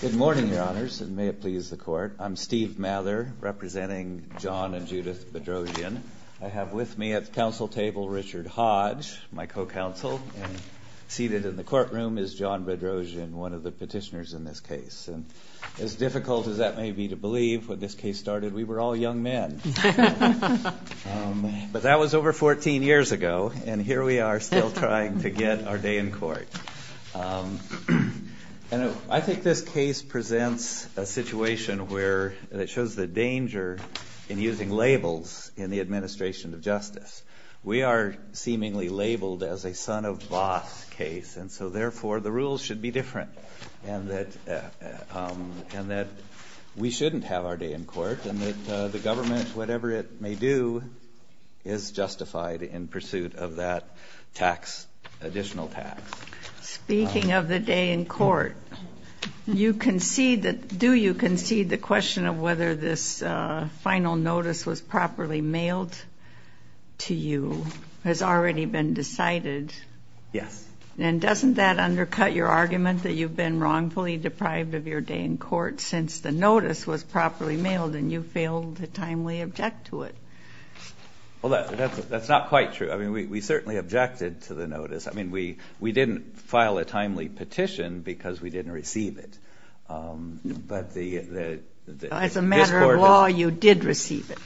Good morning, your honors, and may it please the court. I'm Steve Mather, representing John and Judith Bedrosian. I have with me at the council table Richard Hodge, my co-counsel. Seated in the courtroom is John Bedrosian, one of the petitioners in this case. As difficult as that may be to believe, when this case started, we were all young men. But that was over 14 years ago, and here we are still trying to get our day in court. I think this case presents a situation where it shows the danger in using labels in the administration of justice. We are seemingly labeled as a son-of-boss case, and so therefore the rules should be different, and that we shouldn't have our day in court, and that the government, whatever it may do, is justified in pursuit of that tax, additional tax. Speaking of the day in court, do you concede the question of whether this final notice was properly mailed to you has already been decided? Yes. And doesn't that undercut your argument that you've been wrongfully deprived of your day in court since the notice was properly mailed, and you failed to timely object to it? That's not quite true. We certainly objected to the notice. We didn't file a timely petition because we didn't receive it. As a matter of law, you did receive it.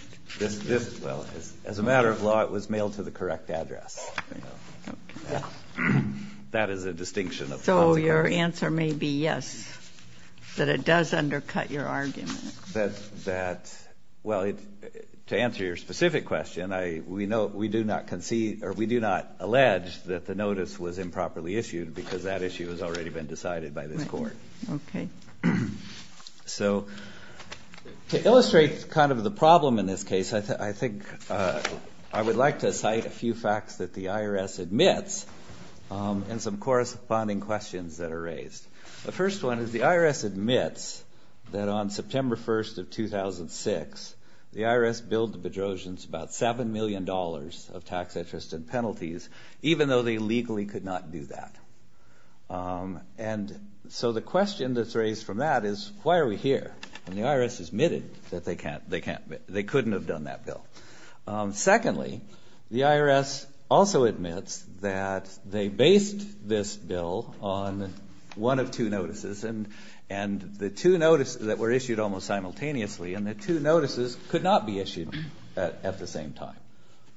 As a matter of law, it was mailed to the correct address. That is a distinction of public order. So your answer may be yes, that it does undercut your argument. That, well, to answer your specific question, we do not concede, or we do not allege that the notice was improperly issued because that issue has already been decided by this court. So to illustrate kind of the problem in this case, I think I would like to cite a few facts that the IRS admits and some corresponding questions that are raised. The first one is the IRS admits that on September 1st of 2006, the IRS billed the Bedrosians about $7 million of tax interest and penalties, even though they legally could not do that. And so the question that's raised from that is, why are we here? And the IRS admitted that they couldn't have done that bill. Secondly, the IRS also admits that they based this bill on one of two notices, and the two notices that were issued almost simultaneously, and the two notices could not be issued at the same time.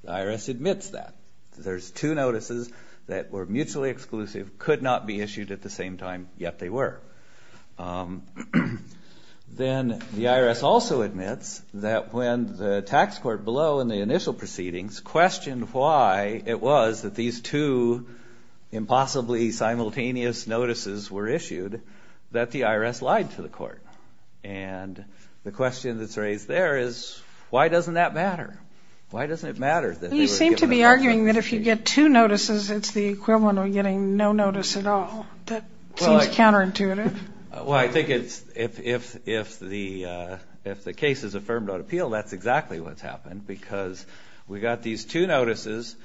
The IRS admits that. There's two notices that were mutually exclusive, could not be issued at the same time, yet they were. Then the IRS also admits that when the tax court below in the initial proceedings questioned why it was that these two impossibly simultaneous notices were issued, that the IRS lied to the court. And the question that's raised there is, why doesn't that matter? Why doesn't it matter that they were given the contract? You seem to be arguing that if you get two notices, it's the equivalent of getting no two notices. Well, I think if the case is affirmed on appeal, that's exactly what's happened, because we got these two notices,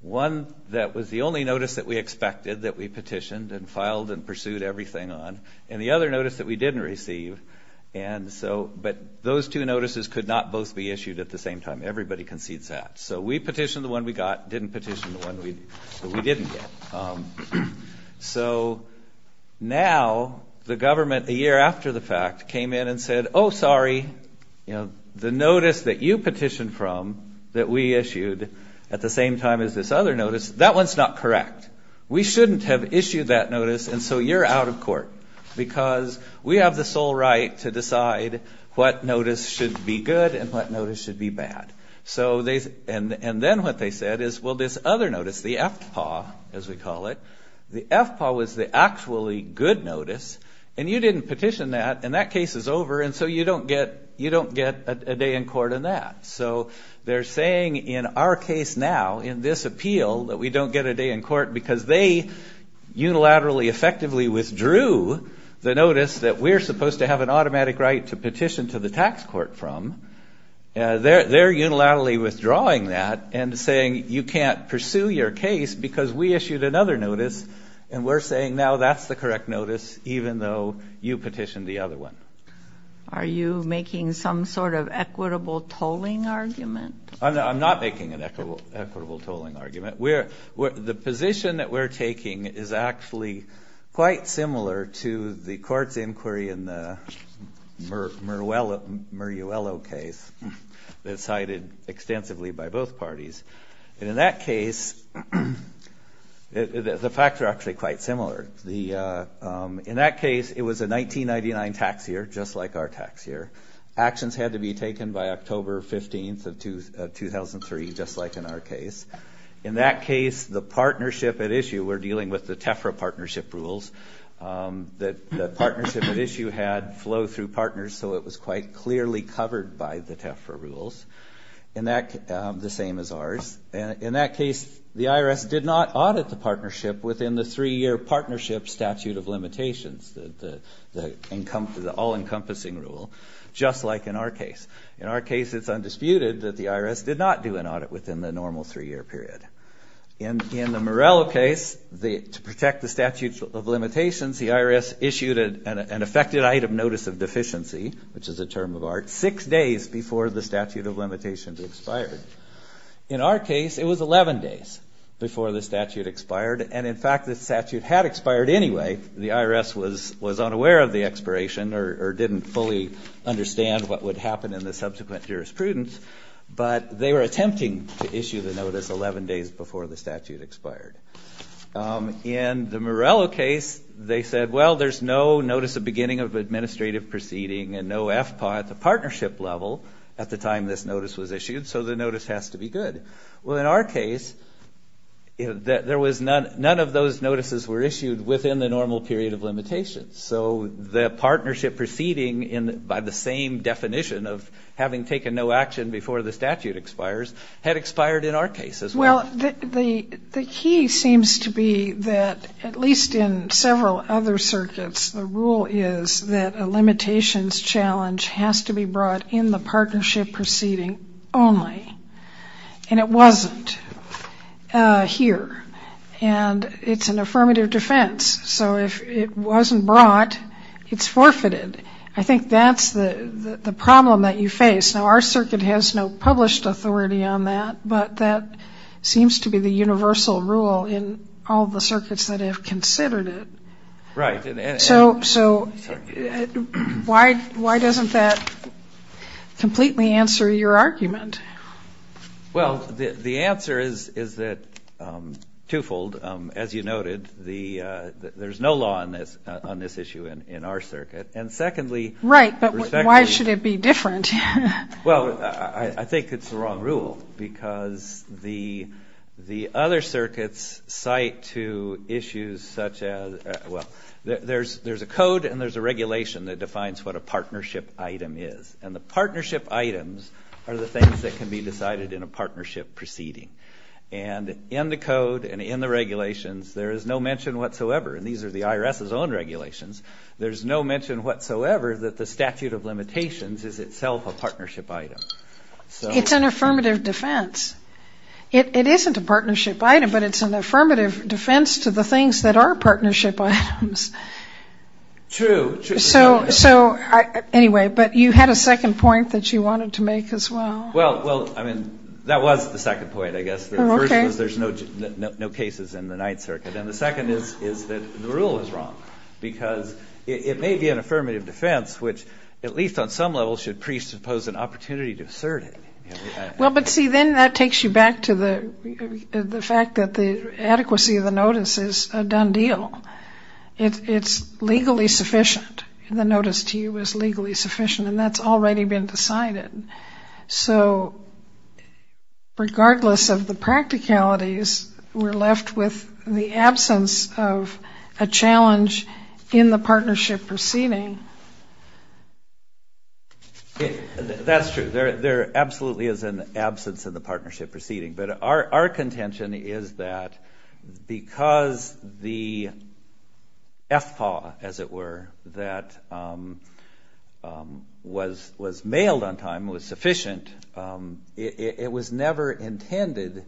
one that was the only notice that we expected that we petitioned and filed and pursued everything on, and the other notice that we didn't receive. But those two notices could not both be issued at the same time. Everybody concedes that. So we petitioned the one we got, didn't petition the one we didn't get. So now the government, a year after the fact, came in and said, oh, sorry, the notice that you petitioned from that we issued at the same time as this other notice, that one's not correct. We shouldn't have issued that notice, and so you're out of court, because we have the sole right to decide what notice should be good and what notice should be bad. So they, and then what they said is, well, this other notice, the FPAW, as we call it, the FPAW was the actually good notice, and you didn't petition that, and that case is over, and so you don't get a day in court on that. So they're saying in our case now, in this appeal, that we don't get a day in court because they unilaterally effectively withdrew the notice that we're supposed to have an automatic right to petition to the FPAW. They're unilaterally withdrawing that and saying you can't pursue your case because we issued another notice, and we're saying now that's the correct notice, even though you petitioned the other one. Are you making some sort of equitable tolling argument? I'm not making an equitable tolling argument. The position that we're taking is actually quite similar to the court's inquiry in the Muruello case that cited the FPAW, and that was examined extensively by both parties. And in that case, the facts are actually quite similar. In that case, it was a 1999 tax year, just like our tax year. Actions had to be taken by October 15th of 2003, just like in our case. In that case, the partnership at issue, we're dealing with the TEFRA partnership rules, that the partnership at issue had flow through partners, so it was quite clearly covered by the TEFRA rules, the same as ours. In that case, the IRS did not audit the partnership within the three-year partnership statute of limitations, the all-encompassing rule, just like in our case. In our case, it's undisputed that the IRS did not do an audit within the normal three-year period. In the Muruello case, to protect the statute of limitations, the IRS issued an effective site of notice of deficiency, which is a term of art, six days before the statute of limitations expired. In our case, it was 11 days before the statute expired, and in fact, the statute had expired anyway. The IRS was unaware of the expiration or didn't fully understand what would happen in the subsequent jurisprudence, but they were attempting to issue the notice 11 days before the statute expired. In the Muruello case, they said, well, there's no notice of beginning of administrative proceeding and no FPAW at the partnership level at the time this notice was issued, so the notice has to be good. Well, in our case, none of those notices were issued within the normal period of limitations, so the partnership proceeding by the same definition of having taken no action before the statute expires had expired in our case as well. Well, the key seems to be that, at least in several other circuits, the rule is that a limitations challenge has to be brought in the partnership proceeding only, and it wasn't here, and it's an affirmative defense, so if it wasn't brought, it's forfeited. I think that's the problem that you face. Now, our circuit has no published authority on that, but that seems to be the universal rule in all the circuits that have considered it. So, why doesn't that completely answer your argument? Well, the answer is that twofold. As you noted, there's no law on this issue in our circuit, and secondly... Right, but why should it be different? Well, I think it's the wrong rule, because the other circuits cite to issues such as, well, there's a code and there's a regulation that defines what a partnership item is, and the partnership items are the things that can be decided in a partnership proceeding, and in the code and in the regulations, there is no mention whatsoever, and these are the IRS's own regulations, there's no mention whatsoever that the statute of limitations is itself a partnership item. It's an affirmative defense. It isn't a partnership item, but it's an affirmative defense to the things that are partnership items. True. Anyway, but you had a second point that you wanted to make as well. Well, I mean, that was the second point, I guess. The first was there's no cases in the Ninth Circuit, and the second is that the rule is wrong, because it may be an affirmative defense, which at least on some level should presuppose an opportunity to assert it. Well, but see, then that takes you back to the fact that the adequacy of the notice is a done deal. It's legally sufficient. The notice to you is legally sufficient, and that's already been decided. So regardless of the practicalities, we're left with the absence of a challenge in the partnership proceeding. That's true. There absolutely is an absence in the partnership proceeding, but our contention is that because the FPAW, as it were, that was mailed on time, was sufficient, it was never intended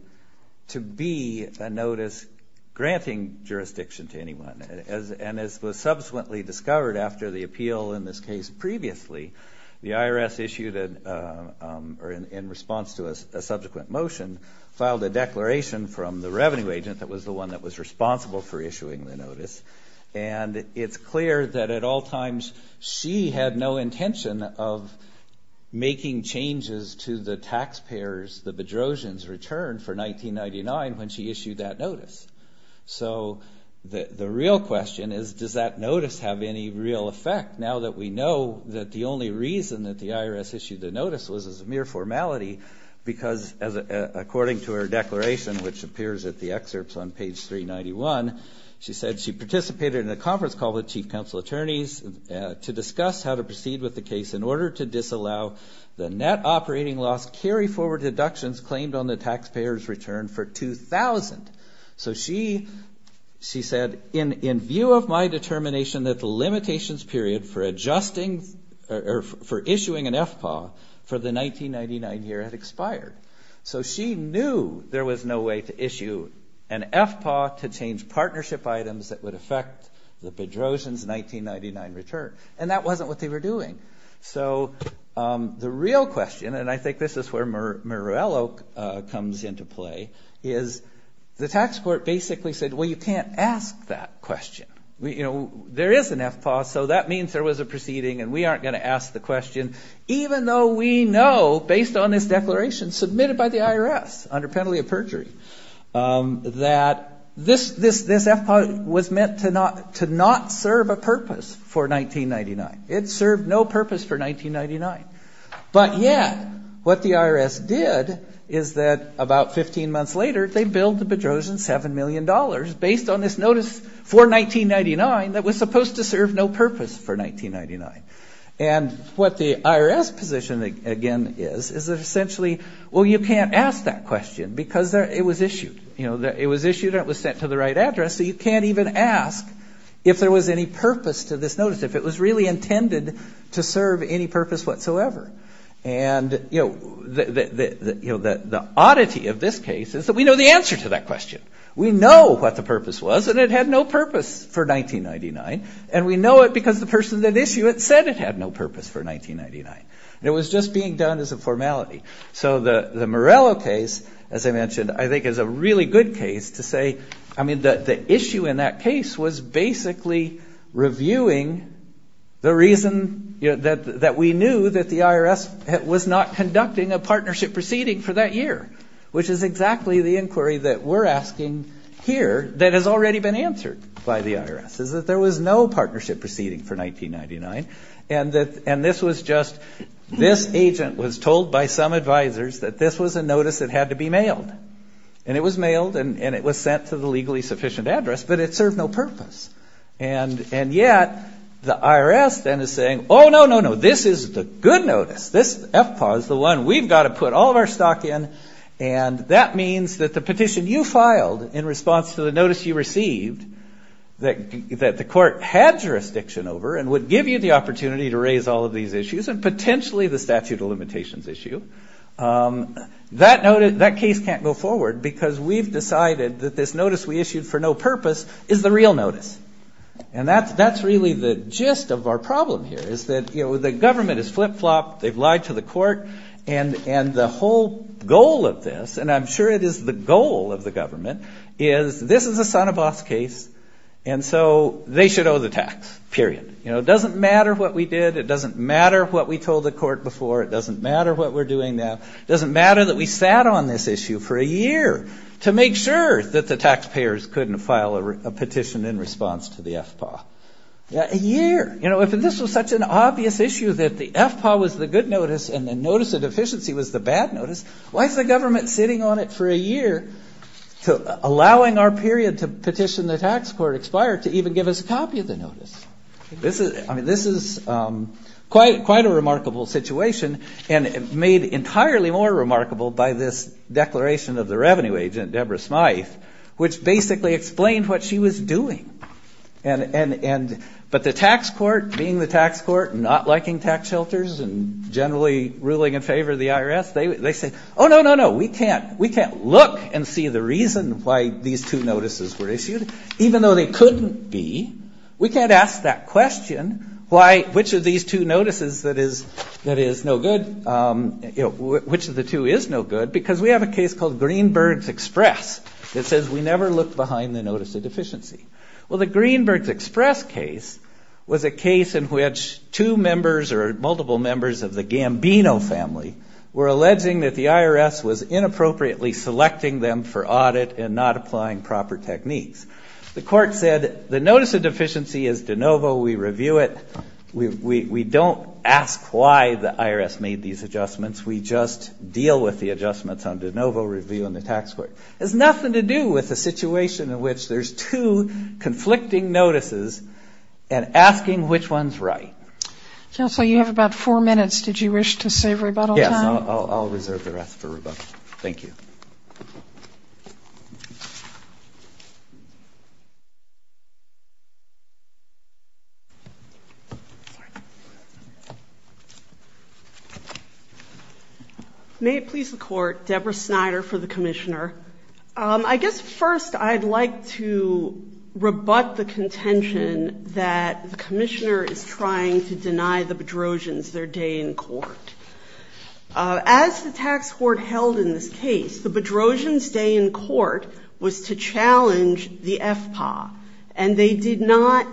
to be a notice granting jurisdiction to anyone. And as was subsequently discovered after the appeal in this case previously, the IRS issued, or in response to a subsequent motion, filed a declaration from the revenue agent that was the one that was responsible for issuing the notice, and it's clear that at all times she had no intention of making changes to the taxpayer's, the Bedrosian's, return for 1999 when she issued that notice. So the real question is, does that notice have any real effect now that we know that the only reason that the IRS issued the notice was as a mere formality, because according to her declaration, which appears at the excerpts on page 391, she said she participated in a conference call with chief counsel attorneys to discuss how to proceed with the case in that operating loss carry forward deductions claimed on the taxpayer's return for 2000. So she said, in view of my determination that the limitations period for adjusting, or for issuing an FPAW for the 1999 year had expired. So she knew there was no way to issue an FPAW to change partnership items that would affect the Bedrosian's 1999 return, and that wasn't what they were doing. So the real question, and I think this is where Murillo comes into play, is the tax court basically said, well, you can't ask that question. There is an FPAW, so that means there was a proceeding, and we aren't going to ask the question, even though we know, based on this declaration submitted by the IRS under penalty of perjury, that this FPAW was meant to not serve a purpose for 1999. It served no purpose for 1999. But yet, what the IRS did is that about 15 months later, they billed the Bedrosian $7 million based on this notice for 1999 that was supposed to serve no purpose for 1999. And what the IRS did was issue it. It was issued and it was sent to the right address, so you can't even ask if there was any purpose to this notice, if it was really intended to serve any purpose whatsoever. And the oddity of this case is that we know the answer to that question. We know what the purpose was, and it had no purpose for 1999, and we know it because the person that issued it said it had no purpose for 1999. It was just being done as a formality. So the Morello case, as I mentioned, I think is a really good case to say, I mean, the issue in that case was basically reviewing the reason that we knew that the IRS was not conducting a partnership proceeding for that year, which is exactly the inquiry that we're asking here that has already been answered by the IRS, is that there was no partnership proceeding for 1999, and this was just this agent was told by some advisors that this was a notice that had to be mailed. And it was mailed, and it was sent to the legally sufficient address, but it served no purpose. And yet the IRS then is saying, oh, no, no, no, this is the good notice. This FPAW is the one we've got to put all of our stock in, and that means that the petition you filed in response to the notice you received, that the court had jurisdiction over and would give you the opportunity to raise all of these issues and potentially the statute of limitations issue, that case can't go forward because we've decided that this notice we issued for no purpose is the real notice. And that's really the gist of our problem here, is that the government has flip-flopped, they've lied to the court, and the whole goal of this, and I'm sure it is the goal of the government, is this is a son of boss case, and so they should owe the tax, period. It doesn't matter what we did, it doesn't matter what we told the court before, it doesn't matter what we're doing now, it doesn't matter that we sat on this issue for a year to make sure that the taxpayers couldn't file a petition in response to the FPAW. A year. If this was such an obvious issue that the FPAW was the good notice and the notice of deficiency was the bad notice, why is the government sitting on it for a year, allowing our period to petition the tax court expired to even give us a copy of the notice? This is quite a remarkable situation and made entirely more remarkable by this declaration of the revenue agent, Debra Smythe, which basically explained what she was doing. But the tax court, being the tax court, not liking tax shelters and generally ruling in favor of the IRS, they said, oh, no, no, no, we can't look and see the reason why these two notices were issued, even though they couldn't be, we can't ask that question, which of these two notices that is no good, which of the two is no good, because we have a case called Greenberg's Express that says we never looked behind the notice of deficiency. Well, the Greenberg's Express case was a case in which two members or multiple members of the Gambino family were alleging that the IRS was inappropriately selecting them for audit and not applying proper techniques. The court said the notice of deficiency is de novo, we review it, we don't ask why the IRS made these adjustments, we just deal with the adjustments on de novo review in the tax court. It has nothing to do with the situation in which there's two conflicting notices and asking which one is right. Counsel, you have about four minutes. Did you wish to save rebuttal time? Yes, I'll reserve the rest for rebuttal. Thank you. May it please the Court, Deborah Snyder for the Commissioner. I guess first I'd like to rebut the contention that the Commissioner is trying to deny the Bedrosians their day in court. As the tax court held in this case, the Bedrosians' day in court was to challenge the FPAW, and they did not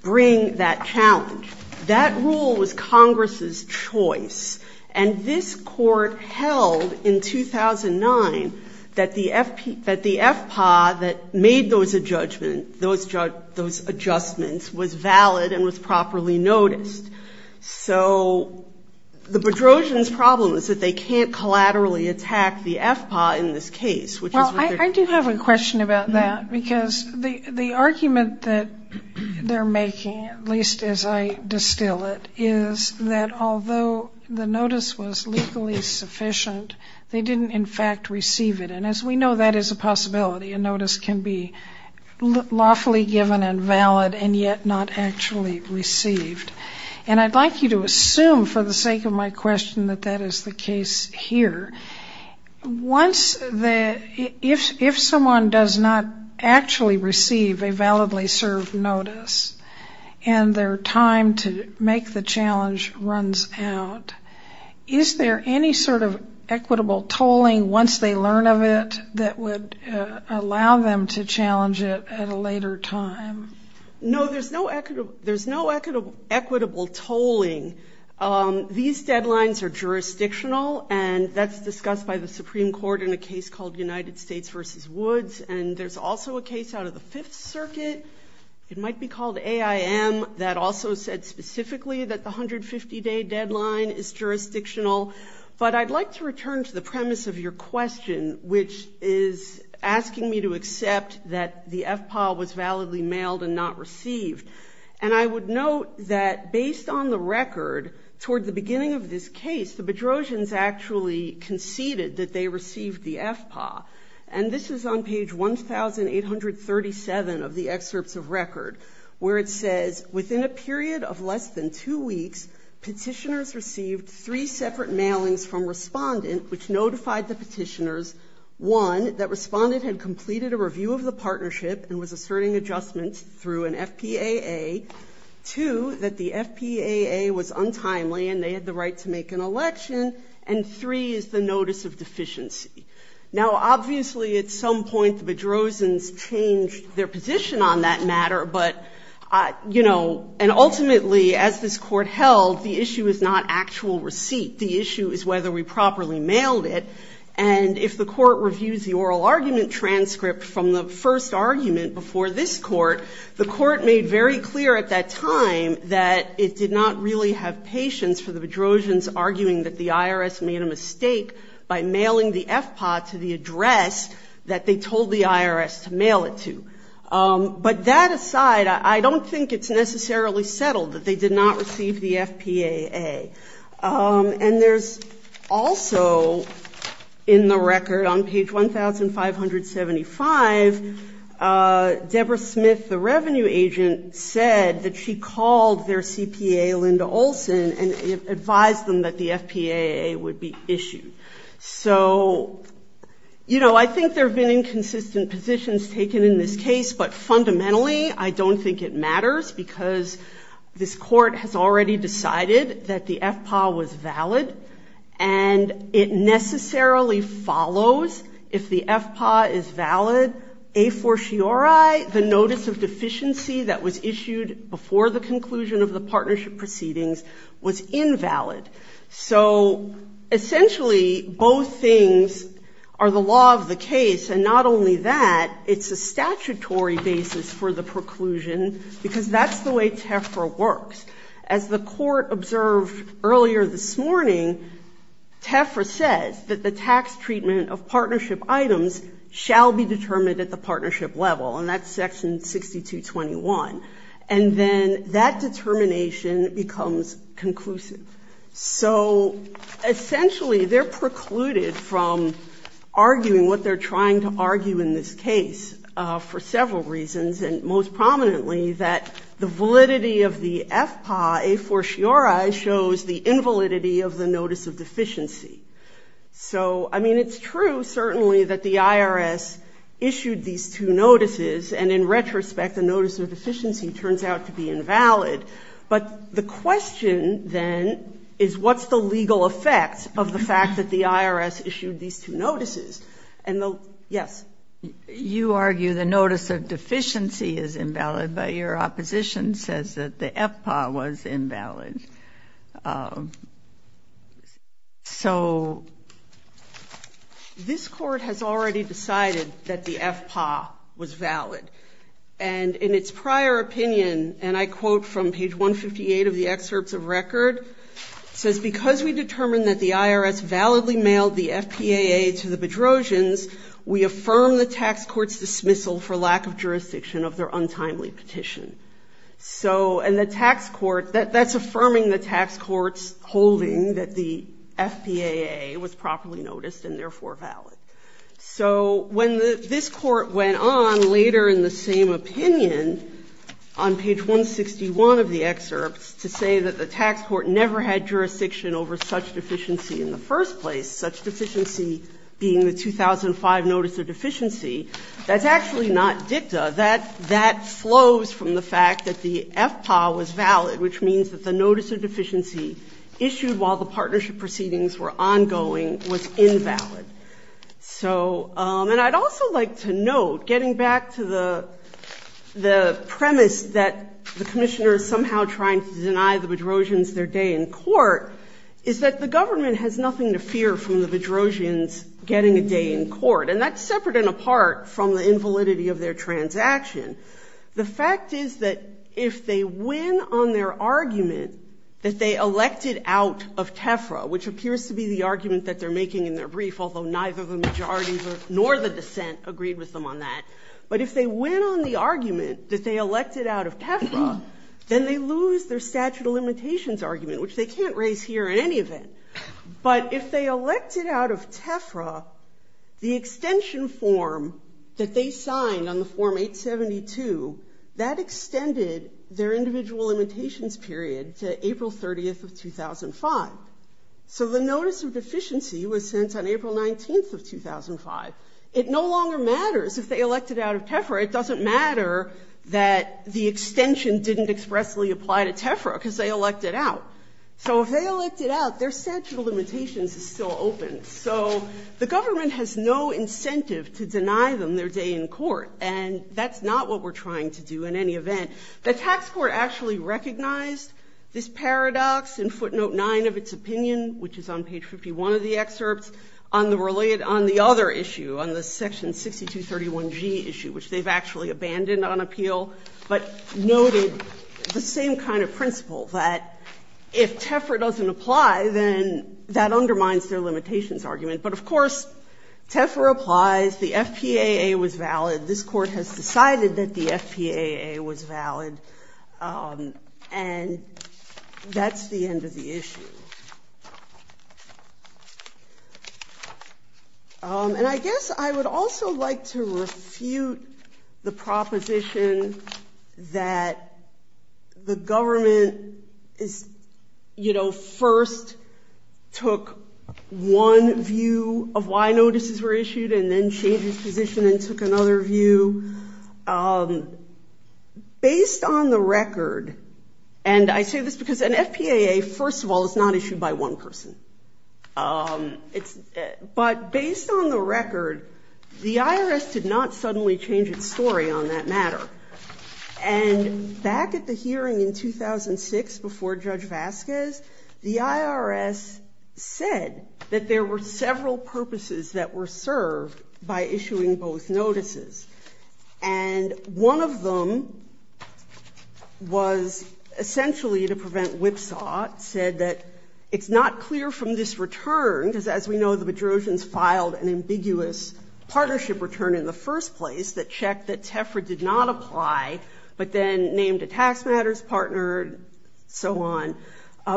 bring that challenge. That rule was Congress's choice, and this court held in 2009 that the Bedrosian was properly noticed. So the Bedrosians' problem is that they can't collaterally attack the FPAW in this case. Well, I do have a question about that, because the argument that they're making, at least as I distill it, is that although the notice was legally sufficient, they didn't in fact receive it. And as we know, that is a possibility. A notice can be lawfully given and valid and yet not actually received. And I'd like you to assume for the sake of my question that that is the case here. If someone does not actually receive a validly served notice, and their time to make the challenge runs out, is there any sort of equitable tolling once they learn of it that would allow them to challenge it at a later time? No, there's no equitable tolling. These deadlines are jurisdictional, and that's discussed by the Supreme Court in a case called United States v. Woods. And there's also a case out of the Fifth Circuit, it might be called AIM, that also said specifically that the 150-day deadline is jurisdictional. But I'd like to return to the premise of your question, which is asking me to accept that the FPAW was validly mailed and not received. And I would note that based on the record, toward the beginning of this case, the Bedrosians actually conceded that they received the FPAW. And this is on page 1,837 of the excerpts of record, where it says, within a period of less than two weeks, petitioners received three separate mailings from Respondent, which notified the petitioners, one, that Respondent had completed a review of the partnership and was asserting adjustments through an FPAA, two, that the FPAA was untimely and they had the right to make an election, and three is the notice of deficiency. Now obviously at some point the Bedrosians changed their position on that matter, but, you know, and ultimately as this Court held, the issue is not actual receipt. The issue is whether we properly mailed it. And if the Court reviews the oral argument transcript from the first argument before this Court, the Court made very clear at that time that it did not really have patience for the Bedrosians arguing that the IRS made a mistake by mailing the FPAW to the address that they told the IRS to mail it to. But that aside, I don't think it's necessarily settled that they did not receive the FPAA. And there's also in the record on page 1,575, Deborah Smith, the revenue agent, said that she called their CPA, Linda Olson, and advised them that the FPAA would be issued. So, you know, I think there have been inconsistent positions taken in this case, but fundamentally I don't think it matters because this Court has already decided that the FPAW was valid and it necessarily follows if the FPAW is valid, a fortiori the notice of deficiency that was issued before the conclusion of the partnership proceedings was invalid. So essentially both things are the law of the case, and not only that, it's a statutory basis for the preclusion because that's the way TEFRA works. As the Court observed earlier this morning, TEFRA says that the tax treatment of partnership items shall be determined at the partnership level, and that's section 6221. And then that determination becomes conclusive. So essentially they're precluded from arguing what they're trying to argue in this case for several reasons, and most prominently that the validity of the FPAA, a fortiori, shows the invalidity of the notice of deficiency. So, I mean, it's true certainly that the IRS issued these two notices, and in retrospect the notice of deficiency turns out to be invalid, but the question then is what's the legal effect of the fact that the IRS issued these two notices? And the, yes? You argue the notice of deficiency is invalid, but your opposition says that the FPAW was already decided that the FPAW was valid. And in its prior opinion, and I quote from page 158 of the excerpts of record, it says, because we determined that the IRS validly mailed the FPAA to the Bedrosians, we affirm the tax court's dismissal for lack of jurisdiction of their untimely petition. So, and the tax court, that's affirming the tax court's holding that the FPAA was properly noticed and therefore valid. So when this Court went on later in the same opinion on page 161 of the excerpts to say that the tax court never had jurisdiction over such deficiency in the first place, such deficiency being the 2005 notice of deficiency, that's actually not dicta. That flows from the fact that the FPAW was valid, which means that the notice of deficiency issued while the partnership proceedings were ongoing was invalid. So, and I'd also like to note, getting back to the premise that the Commissioner is somehow trying to deny the Bedrosians their day in court, is that the government has nothing to fear from the Bedrosians getting a day in court. And that's separate and apart from the invalidity of their transaction. The fact is that if they win on their argument that they elected out of TEFRA, which appears to be the argument that they're making in their brief, although neither the majority nor the dissent agreed with them on that. But if they win on the argument that they elected out of TEFRA, then they lose their statute of limitations argument, which they can't raise here in any event. But if they elected out of TEFRA, the extension form that they signed on the Form 872, that extended their individual limitations period to April 30th of 2005. So the notice of deficiency was sent on April 19th of 2005. It no longer matters if they elected out of TEFRA. It doesn't matter that the extension didn't expressly apply to TEFRA because they elected out. So if they elected out, their statute of limitations is still open. So the government has no incentive to deny them their day in court. And that's not what we're trying to do in any event. The tax court actually recognized this paradox in footnote 9 of its opinion, which is on page 51 of the excerpts, on the other issue, on the section 6231G issue, which they've actually abandoned on appeal, but noted the same kind of principle, that if TEFRA doesn't apply, then that undermines their limitations argument. But of course, TEFRA applies. The FPAA was valid. This Court has decided that the FPAA was valid. And that's the end of the issue. And I guess I would also like to refute the proposition that the tax court should not issue. The government is, you know, first took one view of why notices were issued and then changed its position and took another view. Based on the record, and I say this because an FPAA, first of all, is not issued by one person. But based on the record, the 2006 before Judge Vasquez, the IRS said that there were several purposes that were served by issuing both notices. And one of them was essentially to prevent whipsaw. It said that it's not clear from this return, because as we know, the Bedrosians filed an ambiguous partnership return in the first place that checked that TEFRA did not apply, but then named a tax matters partner and so on.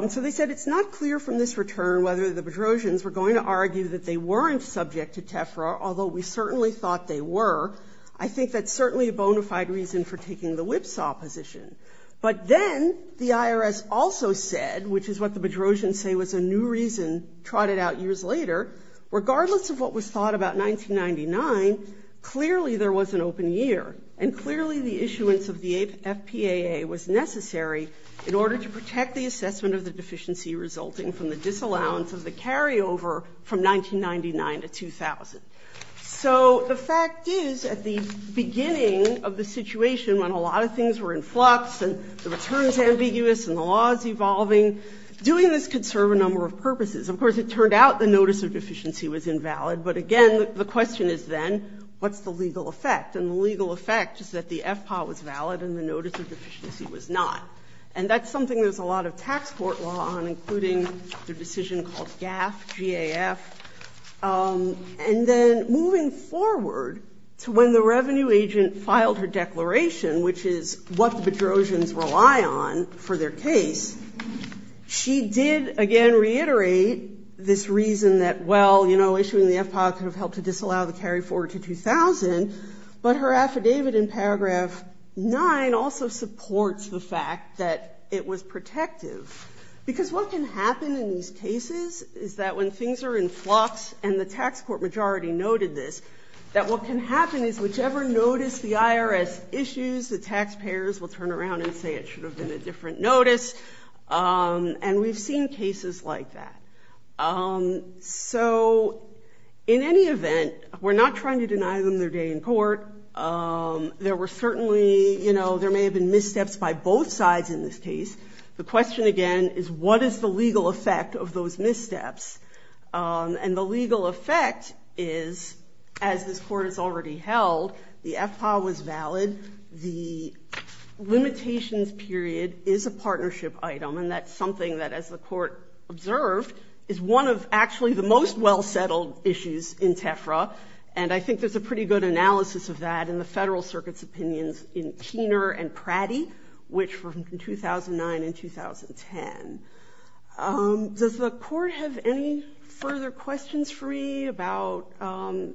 So they said it's not clear from this return whether the Bedrosians were going to argue that they weren't subject to TEFRA, although we certainly thought they were. I think that's certainly a bona fide reason for taking the whipsaw position. But then the IRS also said, which is what the Bedrosians say was a new reason trotted out years later, regardless of what was thought about 1999, clearly there was an open year, and clearly the issuance of the FPAA was necessary in order to protect the assessment of the deficiency resulting from the disallowance of the carryover from 1999 to 2000. So the fact is, at the beginning of the situation when a lot of things were in flux and the return is ambiguous and the law is evolving, doing this could serve a number of purposes. Of course, it turned out the notice of deficiency was invalid, but again, the question is then, what's the legal effect? And the legal effect is that the FPAA was valid and the notice of deficiency was not. And that's something there's a lot of tax court law on, including the decision called GAF, G-A-F. And then moving forward to when the revenue agent filed her declaration, which is what the Bedrosians rely on for their case, she did, again, reiterate this reason that, well, issuing the FPAA could have helped to disallow the carry forward to 2000, but her affidavit in paragraph 9 also supports the fact that it was protective. Because what can happen in these cases is that when things are in flux, and the tax court majority noted this, that what can happen is whichever notice the IRS issues, the taxpayers will turn around and say it should have been a different notice. And we've seen cases like that. So in any event, we're not trying to deny them their day in court. There were certainly, you know, there may have been missteps by both sides in this case. The question, again, is what is the legal effect of those missteps? And the legal effect is, as this Court has already held, the FPAA was valid. The limitations period is a partnership item. And that's something that, as the Court observed, is one of actually the most well-settled issues in TEFRA. And I think there's a pretty good analysis of that in the Federal Circuit's opinions in Keener and Pratty, which from 2009 and 2010. Does the Court have any further questions for me about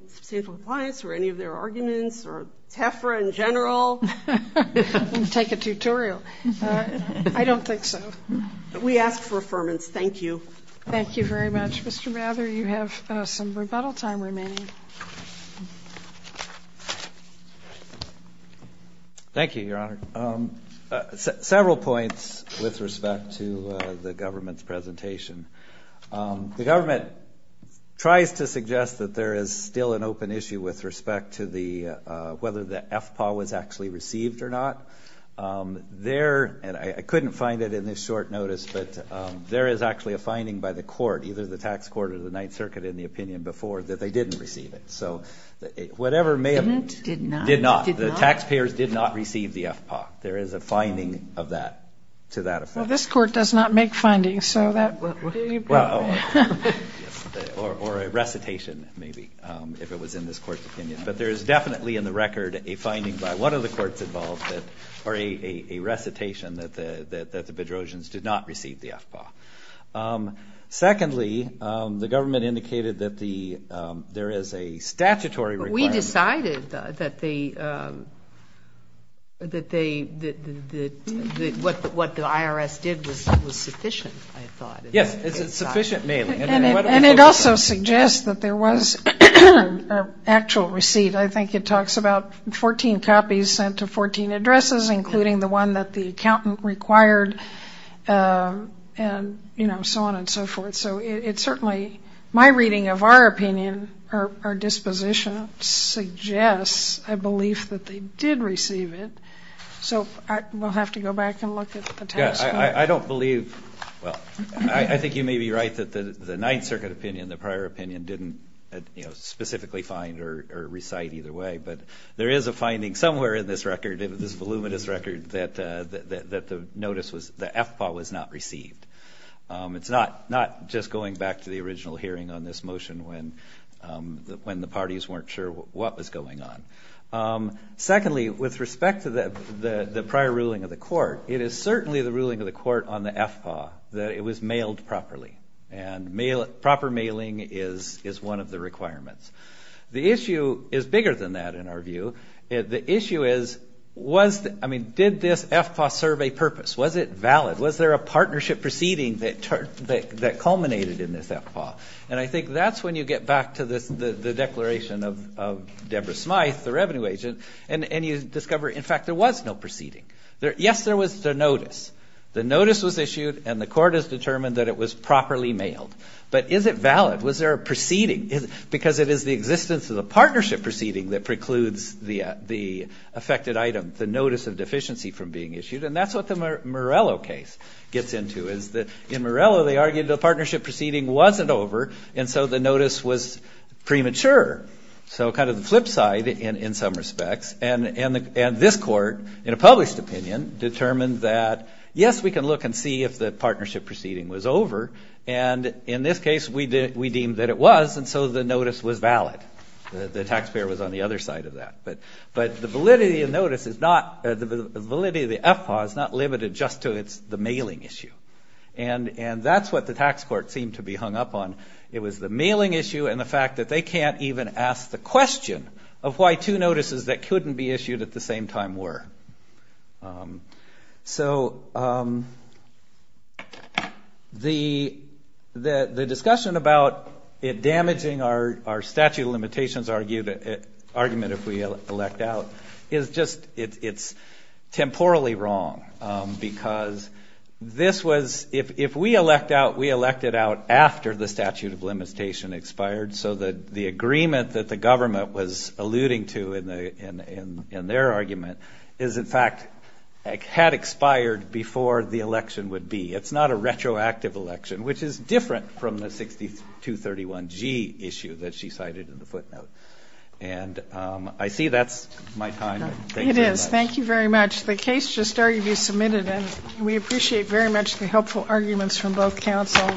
substantial compliance or any of their arguments or TEFRA in general? I'll take a tutorial. I don't think so. We ask for affirmance. Thank you. Thank you very much. Mr. Mather, you have some rebuttal time remaining. Thank you, Your Honor. Several points with respect to the government's presentation. The government tries to suggest that there is still an open issue with respect to whether the FPAA was actually received or not. There, and I couldn't find it in this short notice, but there is actually a finding by the Court, either the Tax Court or the Ninth Circuit in the opinion before, that they didn't receive it. So whatever may have been... Didn't? Did not? Did not. The taxpayers did not receive the FPAA. There is a finding of that, to that effect. Well, this Court does not make findings, so that would be... Well, or a recitation, maybe, if it was in this Court's opinion. But there is definitely in the record a finding by one of the Courts involved that, or a recitation, that the Bedrosians did not receive the FPAA. Secondly, the government indicated that there is a statutory requirement... We decided that what the IRS did was sufficient, I thought. Yes, it's sufficient mailing. And it also suggests that there was actual receipt. I think it talks about 14 copies sent to 14 addresses, including the one that the accountant required, and, you know, so on and so forth. So it certainly, my reading of our opinion, or disposition, suggests a belief that they did receive it. So we'll have to go back and look at the Tax Court. Yes, I don't believe... Well, I think you may be right that the Ninth Circuit opinion, the prior opinion, didn't, you know, specifically find or recite either way. But there is a record, this voluminous record, that the notice was, the FPAA was not received. It's not just going back to the original hearing on this motion when the parties weren't sure what was going on. Secondly, with respect to the prior ruling of the Court, it is certainly the ruling of the Court on the FPAA that it was mailed properly. And proper mailing is one of the requirements. The issue is bigger than that, in our view. The issue is, was, I mean, did this FPAA serve a purpose? Was it valid? Was there a partnership proceeding that culminated in this FPAA? And I think that's when you get back to the declaration of Deborah Smyth, the revenue agent, and you discover, in fact, there was no proceeding. Yes, there was the notice. The notice was issued, and the Court has determined that it was properly mailed. But is it valid? Was there a proceeding? Because it is the existence of the partnership proceeding that precludes the affected item, the notice of deficiency, from being issued. And that's what the Morello case gets into. In Morello, they argued the partnership proceeding wasn't over, and so the notice was premature. So kind of the flip side, in some respects. And this Court, in a published opinion, determined that, yes, we can look and see if the partnership proceeding that it was, and so the notice was valid. The taxpayer was on the other side of that. But the validity of the notice is not, the validity of the FPAA is not limited just to the mailing issue. And that's what the tax court seemed to be hung up on. It was the mailing issue and the fact that they can't even ask the question of why two notices that couldn't be issued at the same time were. So, the discussion about it damaging our statute of limitations argument, if we elect out, is just, it's temporally wrong. Because this was, if we elect out, we elect it out after the statute of limitation expired. So the agreement that the government was alluding to in their argument is, in fact, had expired before the election would be. It's not a retroactive election, which is different from the 6231G issue that she cited in the footnote. And I see that's my time. It is. Thank you very much. The case just started to be submitted, and we appreciate very much the helpful arguments from both counsel.